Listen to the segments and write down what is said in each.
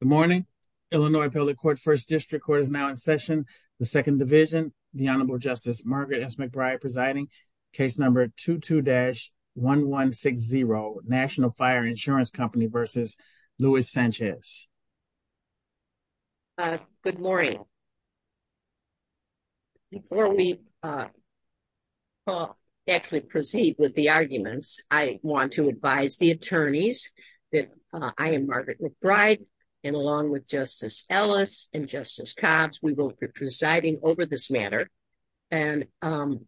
Good morning. Illinois Public Court First District Court is now in session, the Second Division. The Honorable Justice Margaret S. McBride presiding, case number 22-1160, National Fire Insurance Company v. Luis Sanchez. Good morning. Before we actually proceed with the arguments, I want to advise the attorneys that I am Margaret McBride, and along with Justice Ellis and Justice Cobbs, we will be presiding over this matter. And I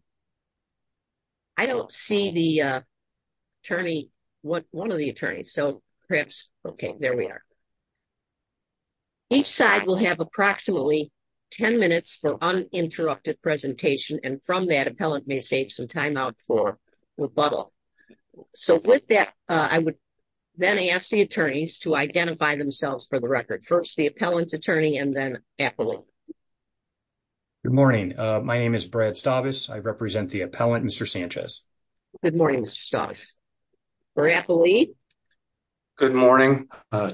don't see the attorney, one of the attorneys, so perhaps, okay, there we are. Each side will have approximately 10 minutes for uninterrupted presentation, and from that, appellant may save some time out for rebuttal. So with that, I would then ask the attorneys to identify themselves for the record. First, the appellant's attorney, and then appellate. Good morning. My name is Brad Stavis. I represent the appellant, Mr. Sanchez. Good morning, Mr. Stavis. For appellate? Good morning.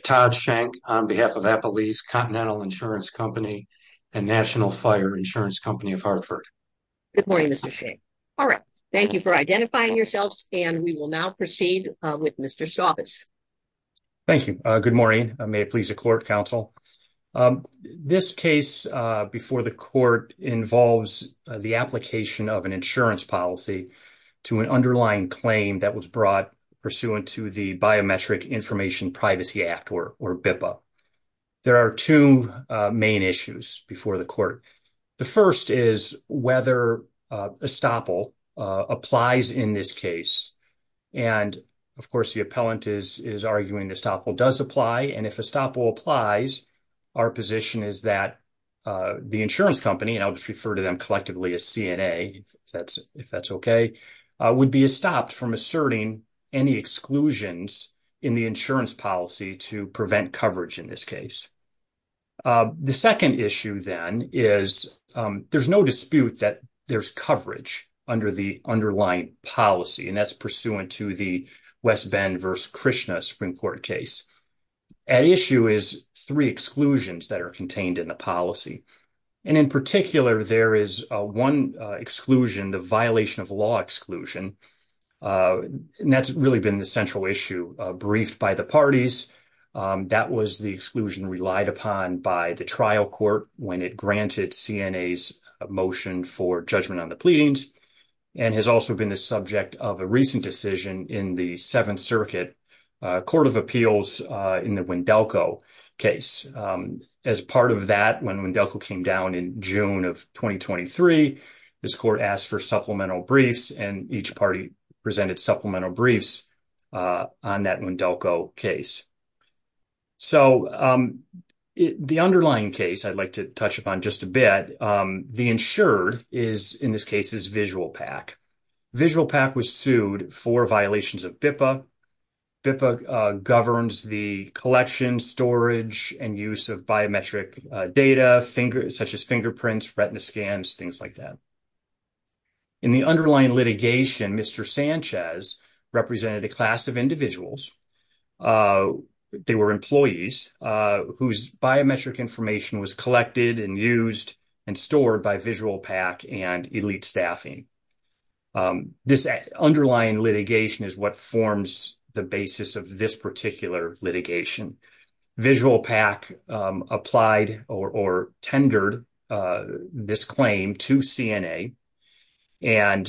Todd Schenck on behalf of Appellee's Continental Insurance Company and National Fire Insurance Company of Hartford. Good morning, Mr. Schenck. All right. Thank you for identifying yourselves, and we will now proceed with Mr. Stavis. Thank you. Good morning. May it please the court, counsel. This case before the court involves the application of an insurance policy to an underlying claim that was brought pursuant to the Biometric Information Privacy Act, or BIPA. There are two main issues before the court. The first is whether estoppel applies in this case. And, of course, the appellant is arguing estoppel does apply, and if estoppel applies, our position is that the insurance company, and I'll just refer to them collectively as CNA, if that's okay, would be stopped from asserting any exclusions in the insurance policy to prevent coverage in this case. The second issue, then, is there's no dispute that there's coverage under the underlying policy, and that's pursuant to the West Bend v. Krishna Supreme Court case. At issue is three exclusions that are contained in the policy. And in particular, there is one exclusion, the violation of law exclusion, and that's really been the central issue briefed by the parties. That was the exclusion relied upon by the trial court when it granted CNA's motion for judgment on the pleadings, and has also been the subject of a recent decision in the Seventh Circuit Court of Appeals in the Wendelco case. As part of that, when Wendelco came down in June of 2023, this court asked for supplemental briefs, and each party presented supplemental briefs on that Wendelco case. So, the underlying case I'd like to touch upon just a bit, the insured is, in this case, is VisualPAC. VisualPAC was sued for violations of BIPA. BIPA governs the collection, storage, and use of biometric data, such as fingerprints, retina scans, things like that. In the underlying litigation, Mr. Sanchez represented a class of individuals. They were employees whose biometric information was collected and used and stored by VisualPAC and elite staffing. This underlying litigation is what forms the basis of this particular litigation. VisualPAC applied or tendered this claim to CNA, and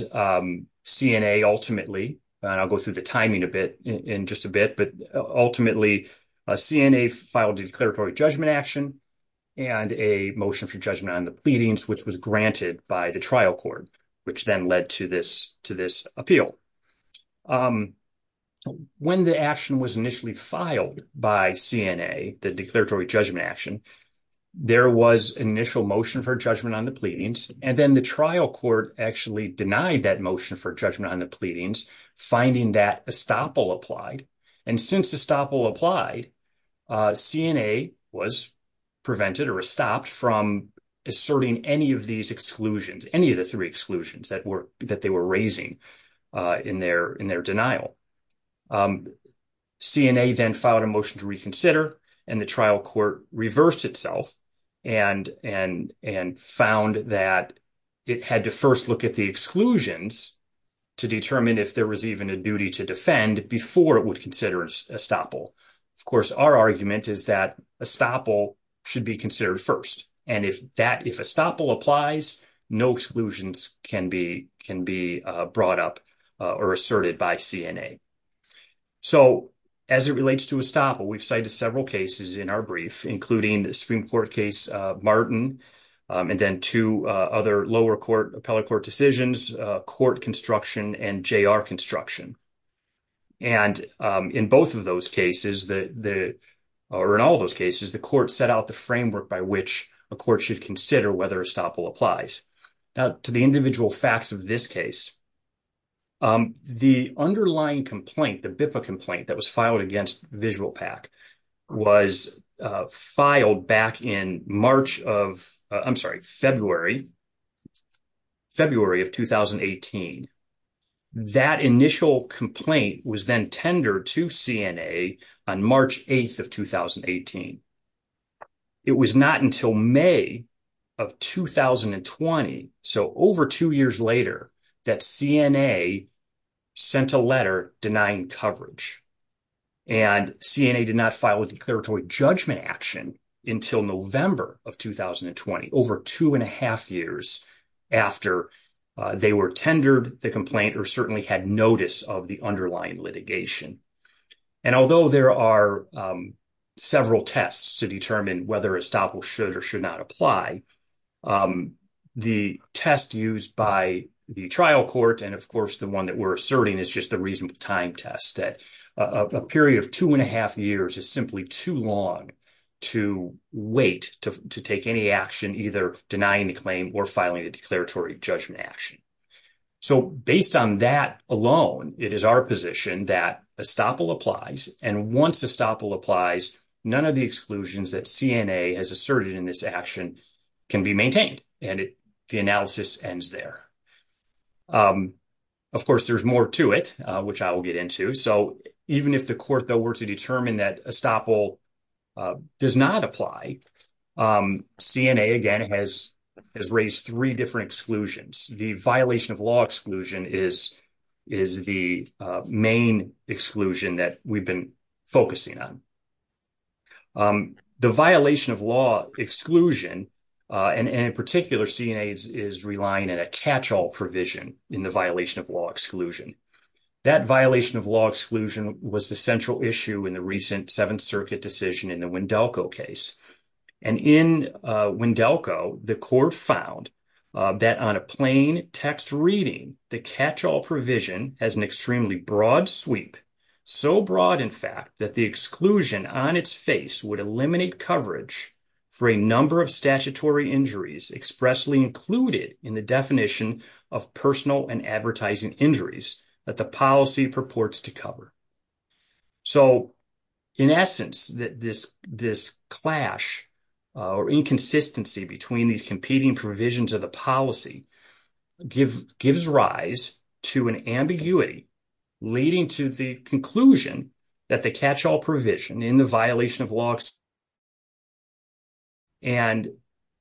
CNA ultimately, and I'll go through the timing in just a bit, but ultimately, CNA filed a declaratory judgment action and a motion for judgment on the pleadings, which was granted by the trial court, which then led to this appeal. When the action was initially filed by CNA, the declaratory judgment action, there was initial motion for judgment on the pleadings, and then the trial court actually denied that motion for judgment on the pleadings, finding that estoppel applied. And since estoppel applied, CNA was prevented or stopped from asserting any of these exclusions, any of the three exclusions that they were raising in their denial. CNA then filed a motion to reconsider, and the trial court reversed itself and found that it had to first look at the exclusions to determine if there was even a duty to defend before it would consider estoppel. Of course, our argument is that estoppel should be considered first, and if that, if estoppel applies, no exclusions can be brought up or asserted by CNA. So, as it relates to estoppel, we've cited several cases in our brief, including Supreme Court case Martin, and then two other lower court, appellate court decisions, court construction, and JR construction. And in both of those cases, or in all of those cases, the court set out the framework by which a court should consider whether estoppel applies. Now, to the individual facts of this case, the underlying complaint, the BIPA complaint that was filed against VisualPAC was filed back in March of, I'm sorry, February, February of 2018. That initial complaint was then tendered to CNA on March 8th of 2018. It was not until May of 2020, so over two years later, that CNA sent a letter denying coverage. And CNA did not file a declaratory judgment action until November of 2020, over two and a half years after they were tendered the complaint or certainly had notice of the underlying litigation. And although there are several tests to determine whether estoppel should or should not apply, the test used by the trial court, and of course, the one that we're asserting is just the reasonable time test, that a period of two and a half years is simply too long to wait to take any action, either denying the claim or filing a declaratory judgment action. So based on that alone, it is our position that estoppel applies, and once estoppel applies, none of the exclusions that CNA has asserted in this action can be maintained, and the analysis ends there. Of course, there's more to it, which I will get into. So even if the court, though, were to determine that estoppel does not apply, CNA, again, has raised three different exclusions. The violation of law exclusion is the main exclusion that we've been focusing on. The violation of law exclusion, and in particular, CNA is relying on a catch-all provision in the violation of law exclusion. That violation of law exclusion was the central issue in the recent Seventh Circuit decision in the Wendelco case. And in Wendelco, the court found that on a plain text reading, the catch-all provision has an extremely broad sweep, so broad, in fact, that the exclusion on its face would eliminate coverage for a number of statutory injuries expressly included in the definition of personal and advertising injuries that the policy purports to cover. So, in essence, this clash or inconsistency between these competing provisions of the policy gives rise to an ambiguity leading to the conclusion that the catch-all provision in the violation of law exclusion, And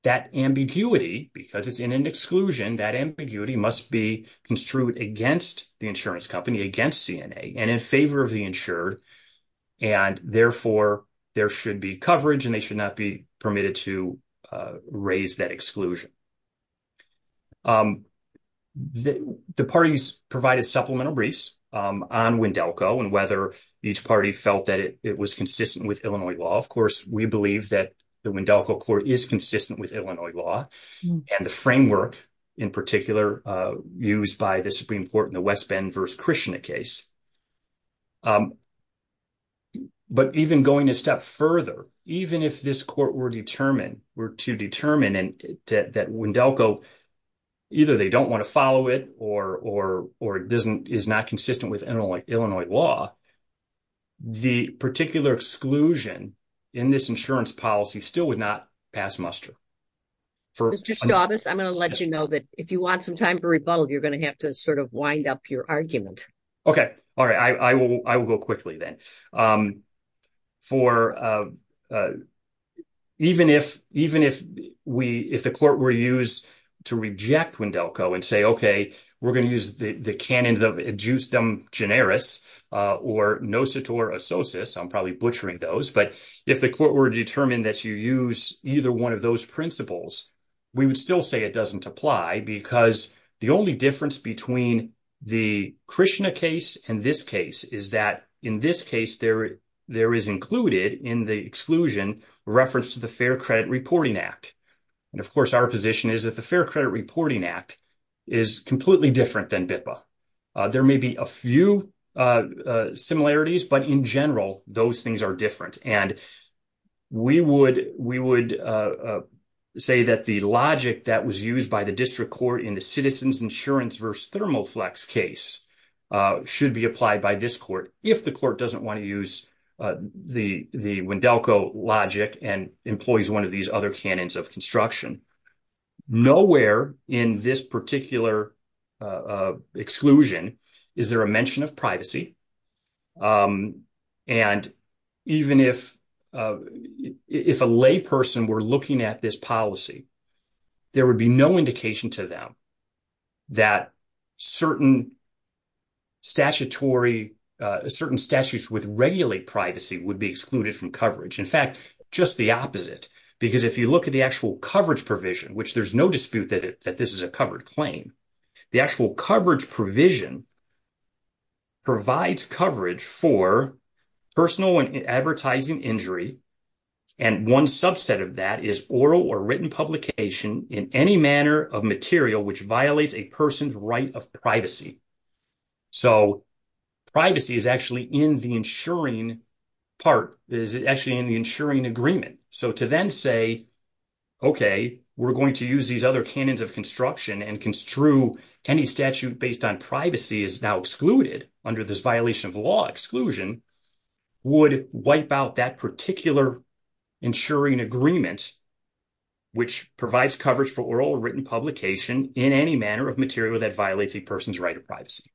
that ambiguity, because it's in an exclusion, that ambiguity must be construed against the insurance company, against CNA, and in favor of the insured. And therefore, there should be coverage and they should not be permitted to raise that exclusion. The parties provided supplemental briefs on Wendelco and whether each party felt that it was consistent with Illinois law. Of course, we believe that the Wendelco court is consistent with Illinois law and the framework, in particular, used by the Supreme Court in the West Bend v. Krishna case. But even going a step further, even if this court were to determine that Wendelco, either they don't want to follow it or it is not consistent with Illinois law, the particular exclusion in this insurance policy still would not pass muster. Mr. Staubis, I'm going to let you know that if you want some time for rebuttal, you're going to have to sort of wind up your argument. Okay. All right. I will go quickly then. Even if the court were used to reject Wendelco and say, okay, we're going to use the canon of adjustum generis or nositor assosus, I'm probably butchering those. But if the court were to determine that you use either one of those principles, we would still say it doesn't apply because the only difference between the Krishna case and this case is that in this case, there is included in the exclusion reference to the Fair Credit Reporting Act. And of course, our position is that the Fair Credit Reporting Act is completely different than BIPA. There may be a few similarities, but in general, those things are different. And we would say that the logic that was used by the district court in the Citizens Insurance v. Thermoflex case should be applied by this court if the court doesn't want to use the Wendelco logic and employs one of these other canons of construction. Nowhere in this particular exclusion is there a mention of privacy. And even if a layperson were looking at this policy, there would be no indication to them that certain statutory – certain statutes with regulated privacy would be excluded from coverage. In fact, just the opposite, because if you look at the actual coverage provision, which there's no dispute that this is a covered claim, the actual coverage provision provides coverage for personal and advertising injury. And one subset of that is oral or written publication in any manner of material which violates a person's right of privacy. So, privacy is actually in the insuring part – is actually in the insuring agreement. So, to then say, okay, we're going to use these other canons of construction and construe any statute based on privacy is now excluded under this violation of law exclusion would wipe out that particular insuring agreement, which provides coverage for oral or written publication in any manner of material that violates a person's right of privacy.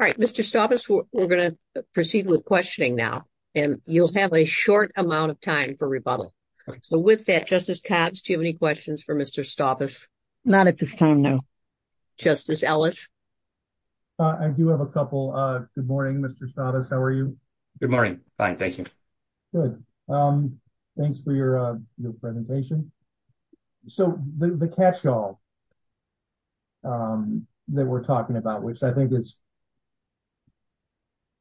All right, Mr. Stavis, we're going to proceed with questioning now, and you'll have a short amount of time for rebuttal. So, with that, Justice Katz, do you have any questions for Mr. Stavis? Not at this time, no. Justice Ellis? I do have a couple. Good morning, Mr. Stavis. How are you? Good morning. Fine, thank you. Good. Thanks for your presentation. So, the catch-all that we're talking about, which I think is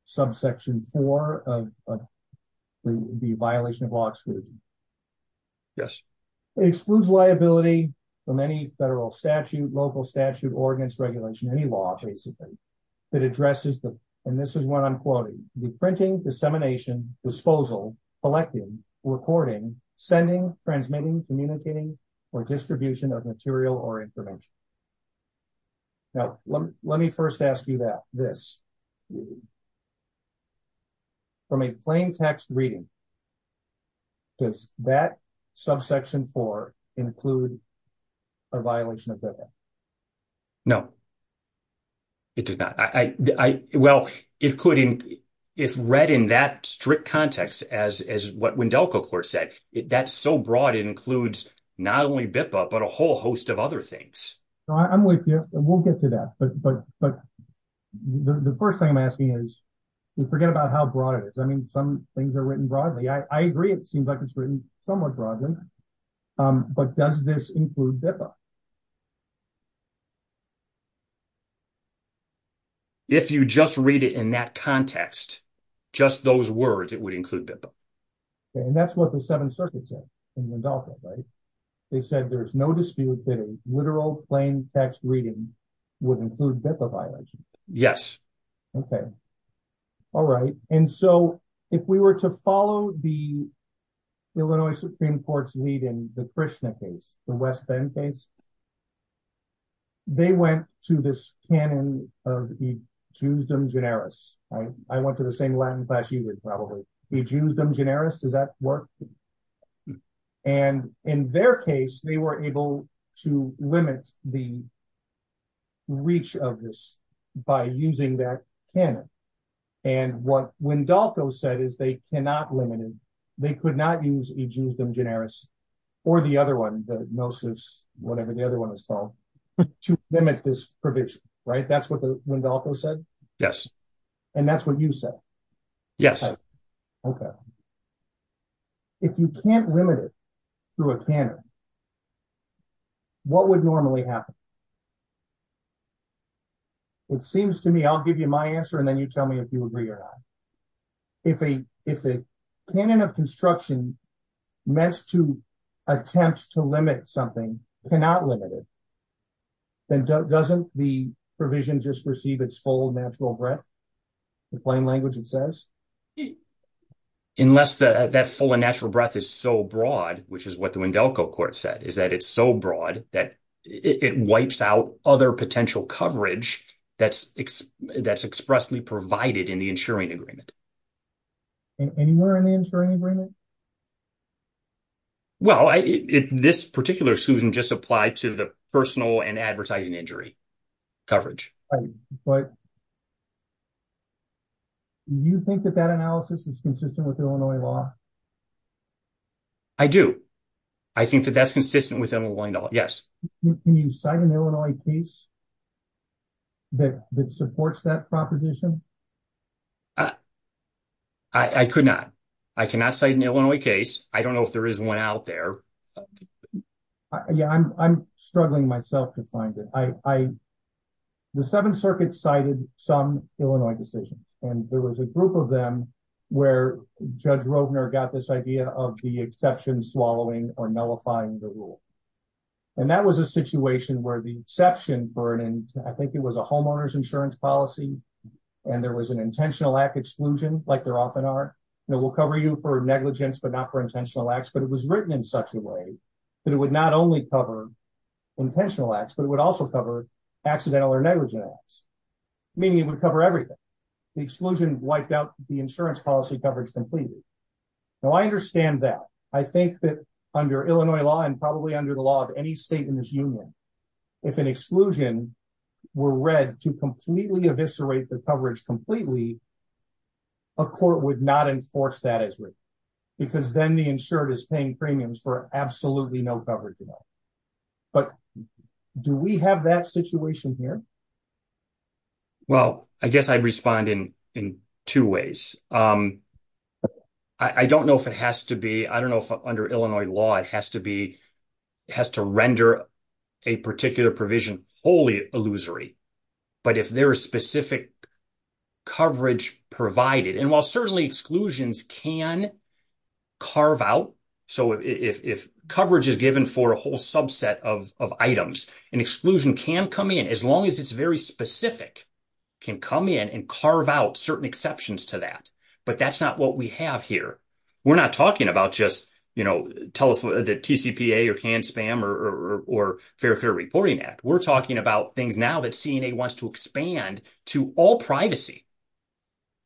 subsection four of the violation of law exclusion. Yes. It excludes liability from any federal statute, local statute, ordinance, regulation, any law, basically, that addresses the, and this is what I'm quoting, the printing, dissemination, disposal, collecting, recording, sending, transmitting, communicating, or distribution of material or information. Now, let me first ask you that, this. From a plain text reading. Does that subsection four include a violation of BIPA? No, it does not. Well, it could, if read in that strict context, as what Wendelco Court said, that's so broad, it includes not only BIPA, but a whole host of other things. I'm with you. We'll get to that. But the first thing I'm asking is, forget about how broad it is. I mean, some things are written broadly. I agree, it seems like it's written somewhat broadly. But does this include BIPA? If you just read it in that context, just those words, it would include BIPA. And that's what the Seventh Circuit said in Wendelco, right? They said there's no dispute that a literal plain text reading would include BIPA violation. Yes. Okay. All right. And so, if we were to follow the Illinois Supreme Court's lead in the Krishna case, the West Bend case, they went to this canon of e justem generis. I went to the same Latin class you would probably. E justem generis, does that work? And in their case, they were able to limit the reach of this by using that canon. And what Wendelco said is they cannot limit it. They could not use e justem generis or the other one, the gnosis, whatever the other one is called, to limit this provision, right? That's what Wendelco said? Yes. And that's what you said? Yes. Okay. If you can't limit it through a canon, what would normally happen? It seems to me, I'll give you my answer and then you tell me if you agree or not. If a canon of construction meant to attempt to limit something cannot limit it, then doesn't the provision just receive its full natural breadth? In plain language, it says? Unless that full and natural breadth is so broad, which is what the Wendelco court said, is that it's so broad that it wipes out other potential coverage that's expressly provided in the insuring agreement. Anywhere in the insuring agreement? Well, this particular exclusion just applied to the personal and advertising injury coverage. But you think that that analysis is consistent with Illinois law? I do. I think that that's consistent with Illinois law. Yes. Can you cite an Illinois case that supports that proposition? I could not. I cannot cite an Illinois case. I don't know if there is one out there. Yeah, I'm struggling myself to find it. The Seventh Circuit cited some Illinois decision, and there was a group of them where Judge Roedner got this idea of the exception swallowing or nullifying the rule. And that was a situation where the exception for it, and I think it was a homeowner's insurance policy, and there was an intentional act exclusion, like there often are. We'll cover you for negligence, but not for intentional acts, but it was written in such a way that it would not only cover intentional acts, but it would also cover accidental or negligent acts, meaning it would cover everything. The exclusion wiped out the insurance policy coverage completely. Now, I understand that. I think that under Illinois law and probably under the law of any state in this union, if an exclusion were read to completely eviscerate the coverage completely, a court would not enforce that as well, because then the insured is paying premiums for absolutely no coverage at all. But do we have that situation here? Well, I guess I'd respond in two ways. I don't know if it has to be, I don't know if under Illinois law it has to be, it has to render a particular provision wholly illusory. But if there is specific coverage provided, and while certainly exclusions can carve out, so if coverage is given for a whole subset of items, an exclusion can come in as long as it's very specific, can come in and carve out certain exceptions to that. But that's not what we have here. We're not talking about just the TCPA or canned spam or fair reporting act. We're talking about things now that CNA wants to expand to all privacy.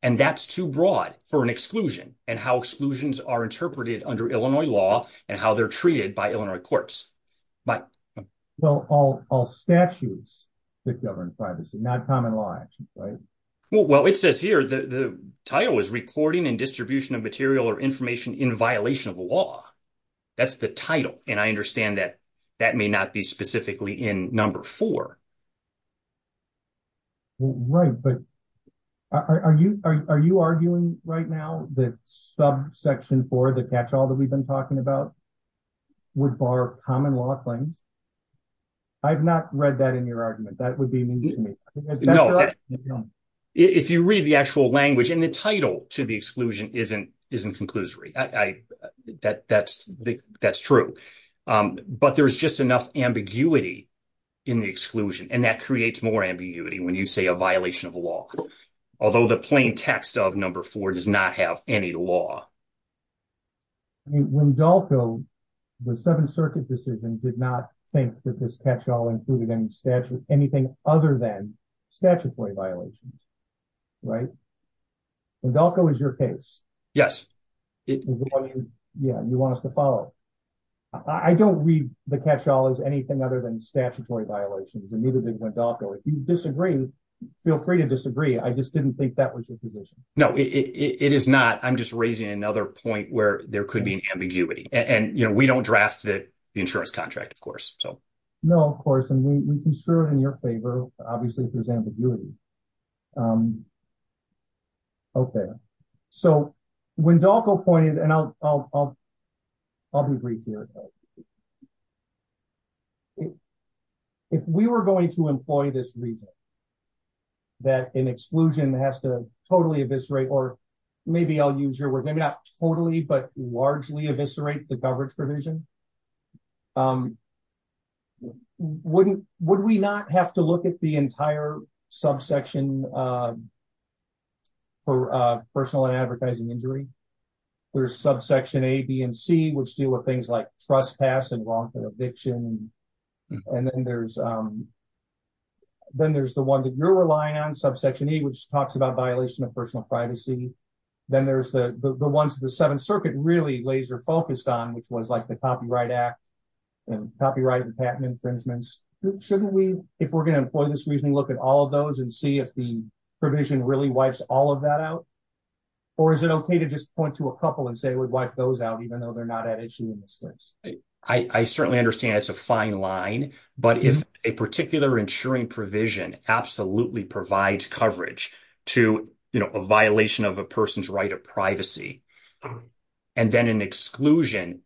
And that's too broad for an exclusion and how exclusions are interpreted under Illinois law and how they're treated by Illinois courts. Well, all statutes that govern privacy, not common law, right? Well, it says here the title is recording and distribution of material or information in violation of the law. That's the title. And I understand that that may not be specifically in number four. Right, but are you arguing right now that subsection four, the catch all that we've been talking about, would bar common law claims? I've not read that in your argument. That would be mean to me. If you read the actual language and the title to the exclusion isn't conclusory, that's true. But there's just enough ambiguity in the exclusion, and that creates more ambiguity when you say a violation of the law. Although the plain text of number four does not have any law. Wendalco, the Seventh Circuit decision, did not think that this catch all included anything other than statutory violations, right? Wendalco is your case. Yes. Yeah, you want us to follow it. I don't read the catch all as anything other than statutory violations, and neither did Wendalco. If you disagree, feel free to disagree. I just didn't think that was your position. No, it is not. I'm just raising another point where there could be an ambiguity, and we don't draft the insurance contract, of course. No, of course, and we can serve in your favor, obviously, if there's ambiguity. Okay, so Wendalco pointed, and I'll be brief here. If we were going to employ this reason that an exclusion has to totally eviscerate, or maybe I'll use your word, maybe not totally, but largely eviscerate the coverage provision, would we not have to look at the entire subsection for personal and advertising injury? There's subsection A, B, and C, which deal with things like trespass and wrongful eviction, and then there's the one that you're relying on, subsection E, which talks about violation of personal privacy. Then there's the ones that the Seventh Circuit really laser-focused on, which was like the Copyright Act and copyright and patent infringements. Shouldn't we, if we're going to employ this reasoning, look at all of those and see if the provision really wipes all of that out? Or is it okay to just point to a couple and say we'd wipe those out, even though they're not at issue in this case? I certainly understand it's a fine line, but if a particular insuring provision absolutely provides coverage to a violation of a person's right of privacy, and then an exclusion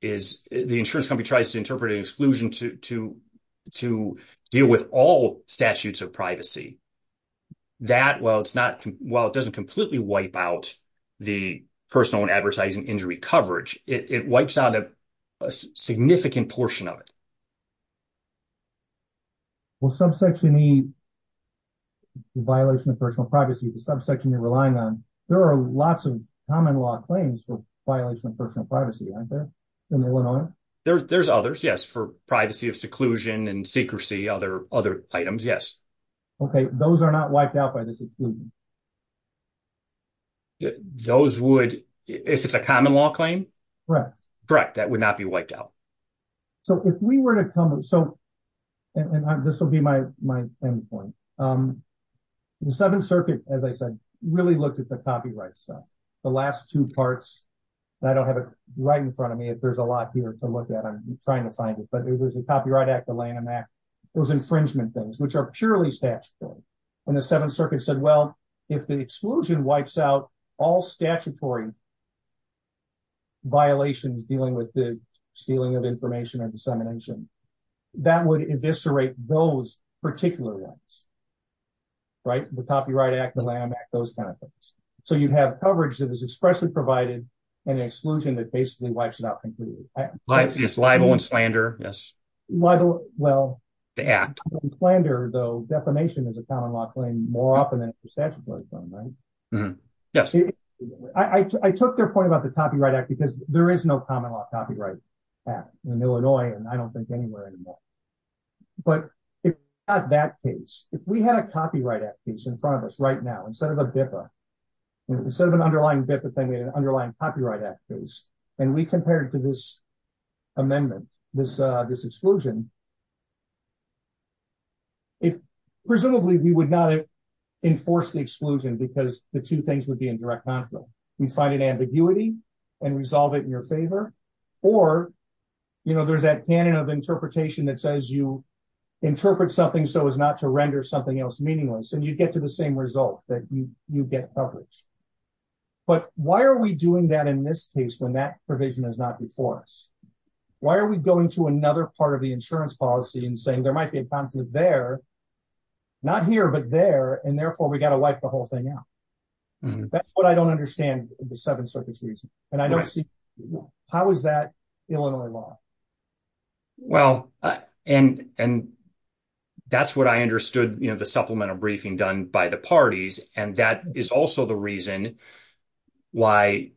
is, the insurance company tries to interpret an exclusion to deal with all statutes of privacy, that, while it doesn't completely wipe out the personal and advertising injury coverage, it wipes out a significant portion of it. Well, subsection E, violation of personal privacy, the subsection you're relying on, there are lots of common law claims for violation of personal privacy, aren't there? There's others, yes, for privacy of seclusion and secrecy, other items, yes. Okay, those are not wiped out by this exclusion. Those would, if it's a common law claim? Correct. Correct, that would not be wiped out. So if we were to come, so, and this will be my end point. The Seventh Circuit, as I said, really looked at the copyright stuff. The last two parts, and I don't have it right in front of me, if there's a lot here to look at, I'm trying to find it. But it was the Copyright Act, the Lanham Act, those infringement things, which are purely statutory. And the Seventh Circuit said, well, if the exclusion wipes out all statutory violations dealing with the stealing of information and dissemination, that would eviscerate those particular ones. Right? The Copyright Act, the Lanham Act, those kind of things. So you'd have coverage that is expressly provided, and an exclusion that basically wipes it out completely. Yes, libel and slander, yes. Well. The Act. Libel and slander, though, defamation is a common law claim more often than it's a statutory claim, right? Yes. I took their point about the Copyright Act because there is no common law copyright act in Illinois, and I don't think anywhere anymore. But if we had that case, if we had a Copyright Act case in front of us right now, instead of the BIFA, instead of an underlying BIFA thing, we had an underlying Copyright Act case. And we compared it to this amendment, this exclusion. Presumably, we would not enforce the exclusion because the two things would be in direct conflict. We'd find an ambiguity and resolve it in your favor. Or, you know, there's that canon of interpretation that says you interpret something so as not to render something else meaningless, and you'd get to the same result, that you get coverage. But why are we doing that in this case when that provision is not before us? Why are we going to another part of the insurance policy and saying there might be a conflict there, not here, but there, and therefore, we got to wipe the whole thing out? That's what I don't understand the Seventh Circuit's reasoning. And I don't see how is that Illinois law? Well, and that's what I understood, you know, the supplemental briefing done by the parties. And that is also the reason why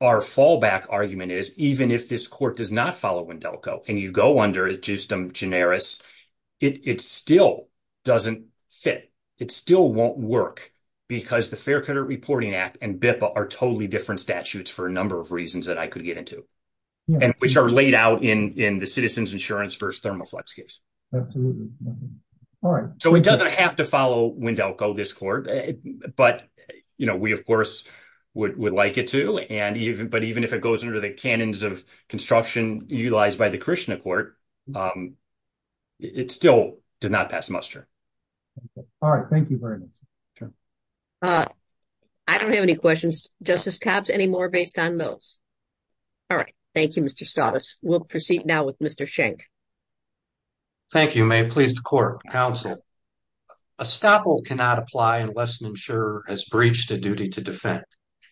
our fallback argument is even if this court does not follow Wendell Co. and you go under Justum Generis, it still doesn't fit. It still won't work because the Fair Credit Reporting Act and BIPA are totally different statutes for a number of reasons that I could get into, which are laid out in the Citizens Insurance v. Thermoflex case. So it doesn't have to follow Wendell Co., this court, but, you know, we, of course, would like it to. But even if it goes under the canons of construction utilized by the Krishna court, it still did not pass muster. All right. Thank you very much. I don't have any questions. Justice Tapps, any more based on those? All right. Thank you, Mr. Stottis. We'll proceed now with Mr. Schenk. Thank you. May it please the court, counsel. Estoppel cannot apply unless an insurer has breached a duty to defend.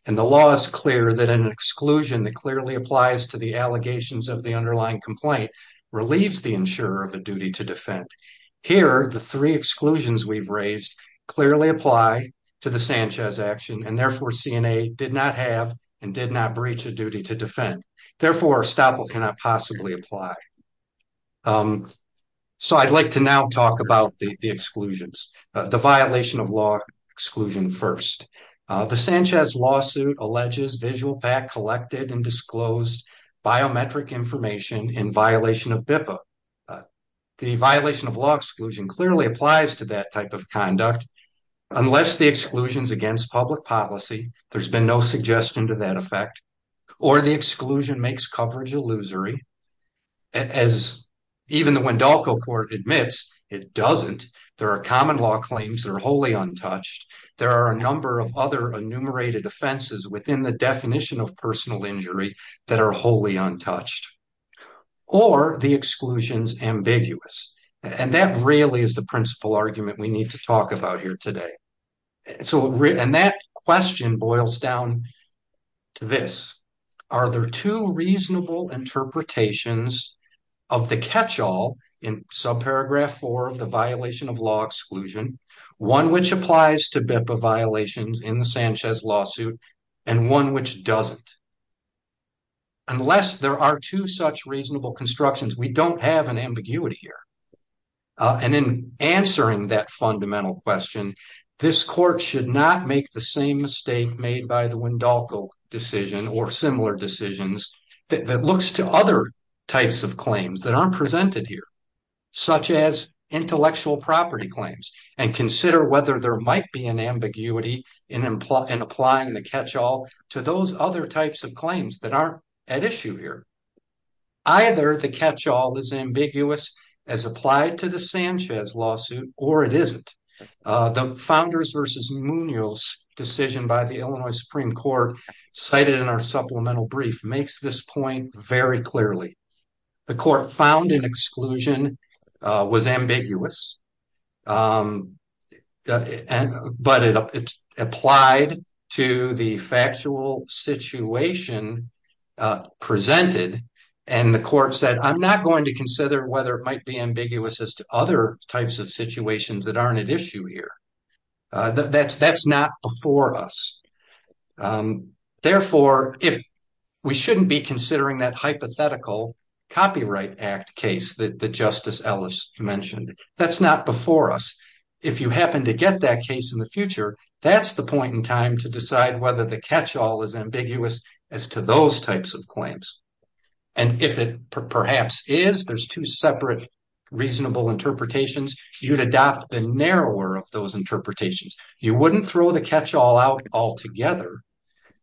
And the law is clear that an exclusion that clearly applies to the allegations of the underlying complaint relieves the insurer of a duty to defend. Here, the three exclusions we've raised clearly apply to the Sanchez action, and therefore, CNA did not have and did not breach a duty to defend. Therefore, Estoppel cannot possibly apply. So I'd like to now talk about the exclusions, the violation of law exclusion first. The Sanchez lawsuit alleges VisualPAC collected and disclosed biometric information in violation of BIPA. The violation of law exclusion clearly applies to that type of conduct. Unless the exclusions against public policy, there's been no suggestion to that effect or the exclusion makes coverage illusory. As even the Wendalco Court admits, it doesn't. There are common law claims that are wholly untouched. There are a number of other enumerated offenses within the definition of personal injury that are wholly untouched or the exclusions ambiguous. And that really is the principal argument we need to talk about here today. And that question boils down to this. Are there two reasonable interpretations of the catch-all in subparagraph four of the violation of law exclusion, one which applies to BIPA violations in the Sanchez lawsuit and one which doesn't? Unless there are two such reasonable constructions, we don't have an ambiguity here. And in answering that fundamental question, this court should not make the same mistake made by the Wendalco decision or similar decisions that looks to other types of claims that aren't presented here, such as intellectual property claims, and consider whether there might be an ambiguity in applying the catch-all to those other types of claims that aren't at issue here. Either the catch-all is ambiguous as applied to the Sanchez lawsuit or it isn't. The Founders versus Munoz decision by the Illinois Supreme Court cited in our supplemental brief makes this point very clearly. The court found an exclusion was ambiguous, but it applied to the factual situation presented. And the court said, I'm not going to consider whether it might be ambiguous as to other types of situations that aren't at issue here. That's not before us. Therefore, if we shouldn't be considering that hypothetical Copyright Act case that Justice Ellis mentioned, that's not before us. If you happen to get that case in the future, that's the point in time to decide whether the catch-all is ambiguous as to those types of claims. And if it perhaps is, there's two separate reasonable interpretations. You'd adopt the narrower of those interpretations. You wouldn't throw the catch-all out altogether.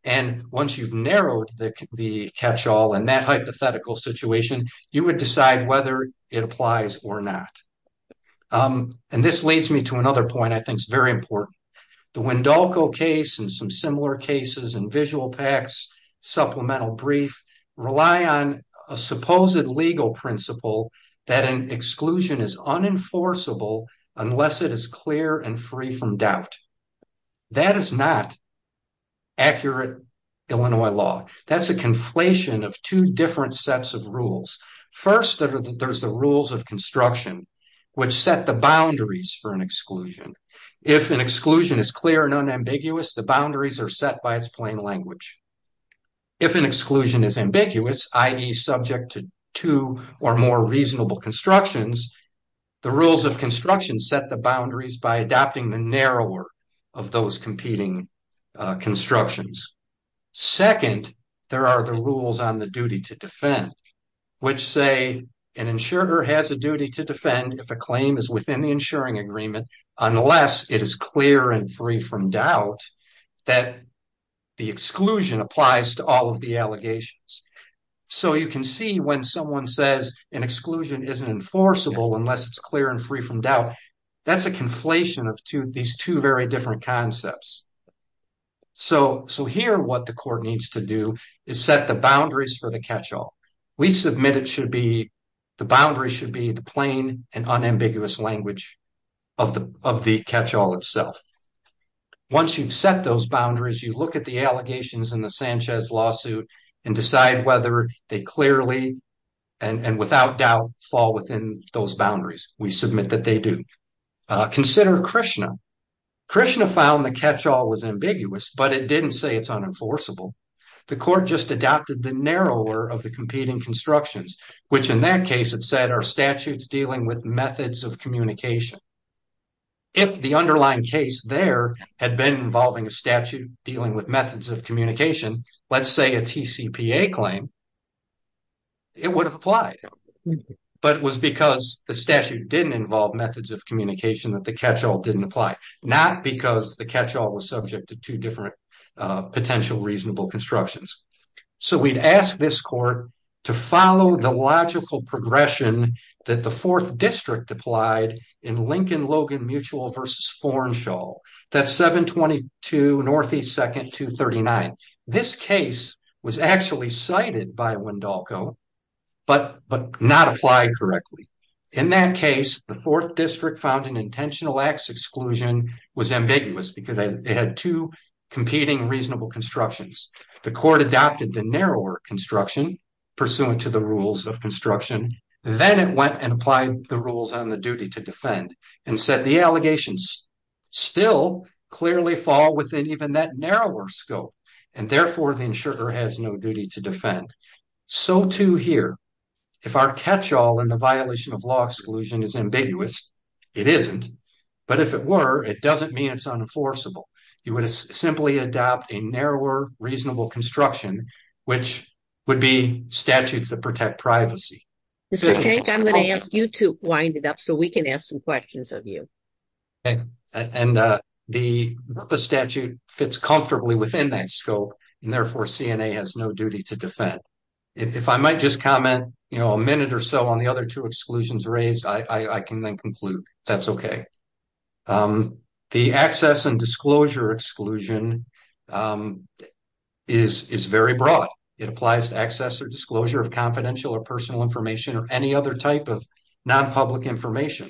And once you've narrowed the catch-all in that hypothetical situation, you would decide whether it applies or not. And this leads me to another point I think is very important. The Wendolko case and some similar cases in VisualPAC's supplemental brief rely on a supposed legal principle that an exclusion is unenforceable unless it is clear and free from doubt. That is not accurate Illinois law. That's a conflation of two different sets of rules. First, there's the rules of construction, which set the boundaries for an exclusion. If an exclusion is clear and unambiguous, the boundaries are set by its plain language. If an exclusion is ambiguous, i.e., subject to two or more reasonable constructions, the rules of construction set the boundaries by adopting the narrower of those competing constructions. Second, there are the rules on the duty to defend, which say an insurer has a duty to defend if a claim is within the insuring agreement unless it is clear and free from doubt that the exclusion applies to all of the allegations. So you can see when someone says an exclusion isn't enforceable unless it's clear and free from doubt, that's a conflation of these two very different concepts. So here what the court needs to do is set the boundaries for the catch-all. We submit it should be the boundary should be the plain and unambiguous language of the catch-all itself. Once you've set those boundaries, you look at the allegations in the Sanchez lawsuit and decide whether they clearly and without doubt fall within those boundaries. We submit that they do. Consider Krishna. Krishna found the catch-all was ambiguous, but it didn't say it's unenforceable. The court just adopted the narrower of the competing constructions, which in that case it said are statutes dealing with methods of communication. If the underlying case there had been involving a statute dealing with methods of communication, let's say a TCPA claim, it would apply. But it was because the statute didn't involve methods of communication that the catch-all didn't apply. Not because the catch-all was subject to two different potential reasonable constructions. So we'd ask this court to follow the logical progression that the Fourth District applied in Lincoln-Logan Mutual v. Forenshaw. That's 722 Northeast 2nd, 239. This case was actually cited by Wendolko, but not applied correctly. In that case, the Fourth District found an intentional acts exclusion was ambiguous because it had two competing reasonable constructions. The court adopted the narrower construction pursuant to the rules of construction. Then it went and applied the rules on the duty to defend and said the allegations still clearly fall within even that narrower scope. And therefore, the insurer has no duty to defend. So too here. If our catch-all in the violation of law exclusion is ambiguous, it isn't. But if it were, it doesn't mean it's unenforceable. You would simply adopt a narrower reasonable construction, which would be statutes that protect privacy. Mr. King, I'm going to ask you to wind it up so we can ask some questions of you. And the statute fits comfortably within that scope, and therefore CNA has no duty to defend. If I might just comment, you know, a minute or so on the other two exclusions raised, I can then conclude that's OK. The access and disclosure exclusion is very broad. It applies to access or disclosure of confidential or personal information or any other type of nonpublic information.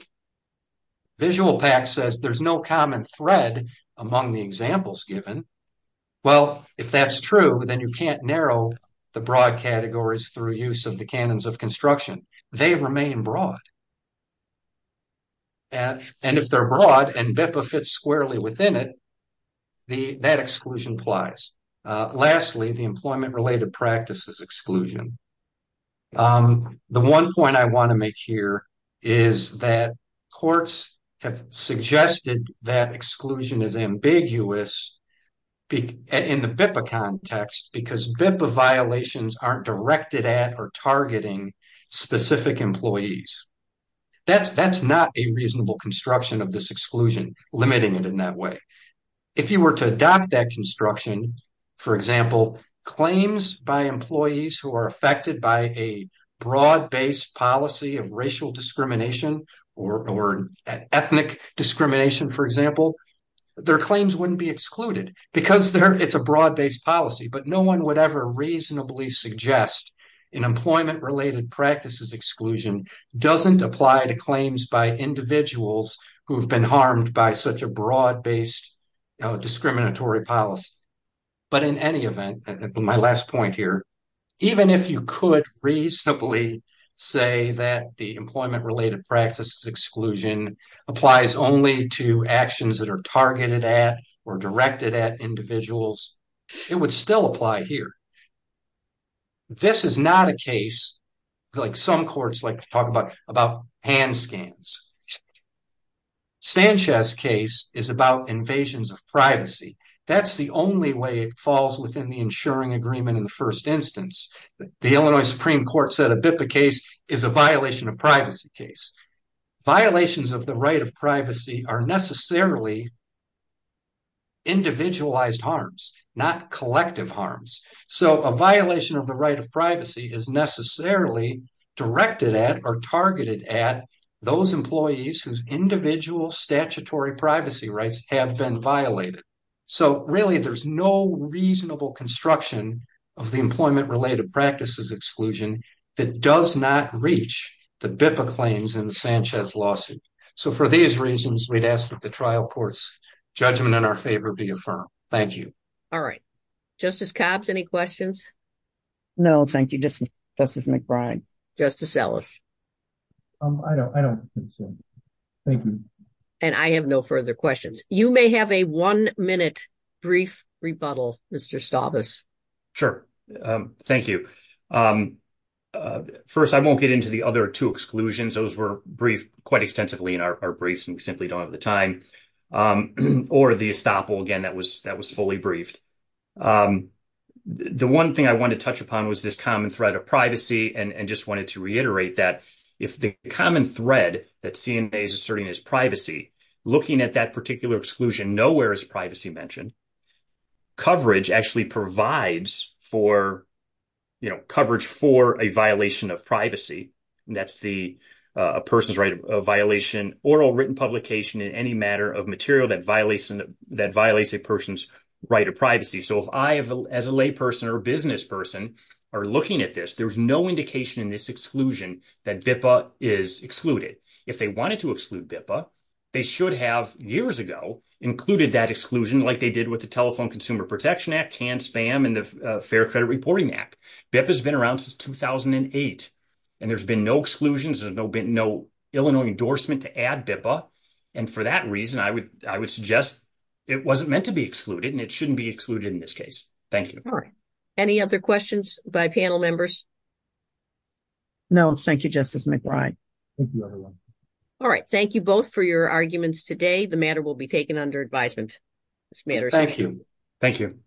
VisualPAC says there's no common thread among the examples given. Well, if that's true, then you can't narrow the broad categories through use of the canons of construction. They remain broad. And if they're broad and BIPA fits squarely within it, that exclusion applies. Lastly, the employment-related practices exclusion. The one point I want to make here is that courts have suggested that exclusion is ambiguous in the BIPA context, because BIPA violations aren't directed at or targeting specific employees. That's not a reasonable construction of this exclusion, limiting it in that way. If you were to adopt that construction, for example, claims by employees who are affected by a broad-based policy of racial discrimination or ethnic discrimination, for example, their claims wouldn't be excluded because it's a broad-based policy. But no one would ever reasonably suggest an employment-related practices exclusion doesn't apply to claims by individuals who've been harmed by such a broad-based discriminatory policy. But in any event, my last point here, even if you could reasonably say that the employment-related practices exclusion applies only to actions that are targeted at or directed at individuals, it would still apply here. This is not a case, like some courts like to talk about, about hand scans. Sanchez's case is about invasions of privacy. That's the only way it falls within the insuring agreement in the first instance. The Illinois Supreme Court said a BIPA case is a violation of privacy case. Violations of the right of privacy are necessarily individualized harms, not collective harms. So a violation of the right of privacy is necessarily directed at or targeted at those employees whose individual statutory privacy rights have been violated. So really, there's no reasonable construction of the employment-related practices exclusion that does not reach the BIPA claims in the Sanchez lawsuit. So for these reasons, we'd ask that the trial court's judgment in our favor be affirmed. Thank you. All right. Justice Cobbs, any questions? No, thank you. Justice McBride? Justice Ellis? I don't think so. Thank you. And I have no further questions. You may have a one-minute brief rebuttal, Mr. Stavis. Sure. Thank you. First, I won't get into the other two exclusions. Those were briefed quite extensively in our briefs and we simply don't have the time. Or the estoppel, again, that was fully briefed. The one thing I want to touch upon was this common thread of privacy and just wanted to reiterate that. If the common thread that CNA is asserting is privacy, looking at that particular exclusion, nowhere is privacy mentioned. Coverage actually provides for, you know, coverage for a violation of privacy. That's a person's right of violation, oral written publication in any matter of material that violates a person's right of privacy. So if I, as a lay person or business person, are looking at this, there's no indication in this exclusion that BIPA is excluded. If they wanted to exclude BIPA, they should have years ago included that exclusion like they did with the Telephone Consumer Protection Act, CAN-SPAM, and the Fair Credit Reporting Act. BIPA has been around since 2008. And there's been no exclusions. There's been no Illinois endorsement to add BIPA. And for that reason, I would suggest it wasn't meant to be excluded and it shouldn't be excluded in this case. Thank you. All right. Any other questions by panel members? No, thank you, Justice McBride. Thank you, everyone. All right. Thank you both for your arguments today. The matter will be taken under advisement. Thank you. Thank you.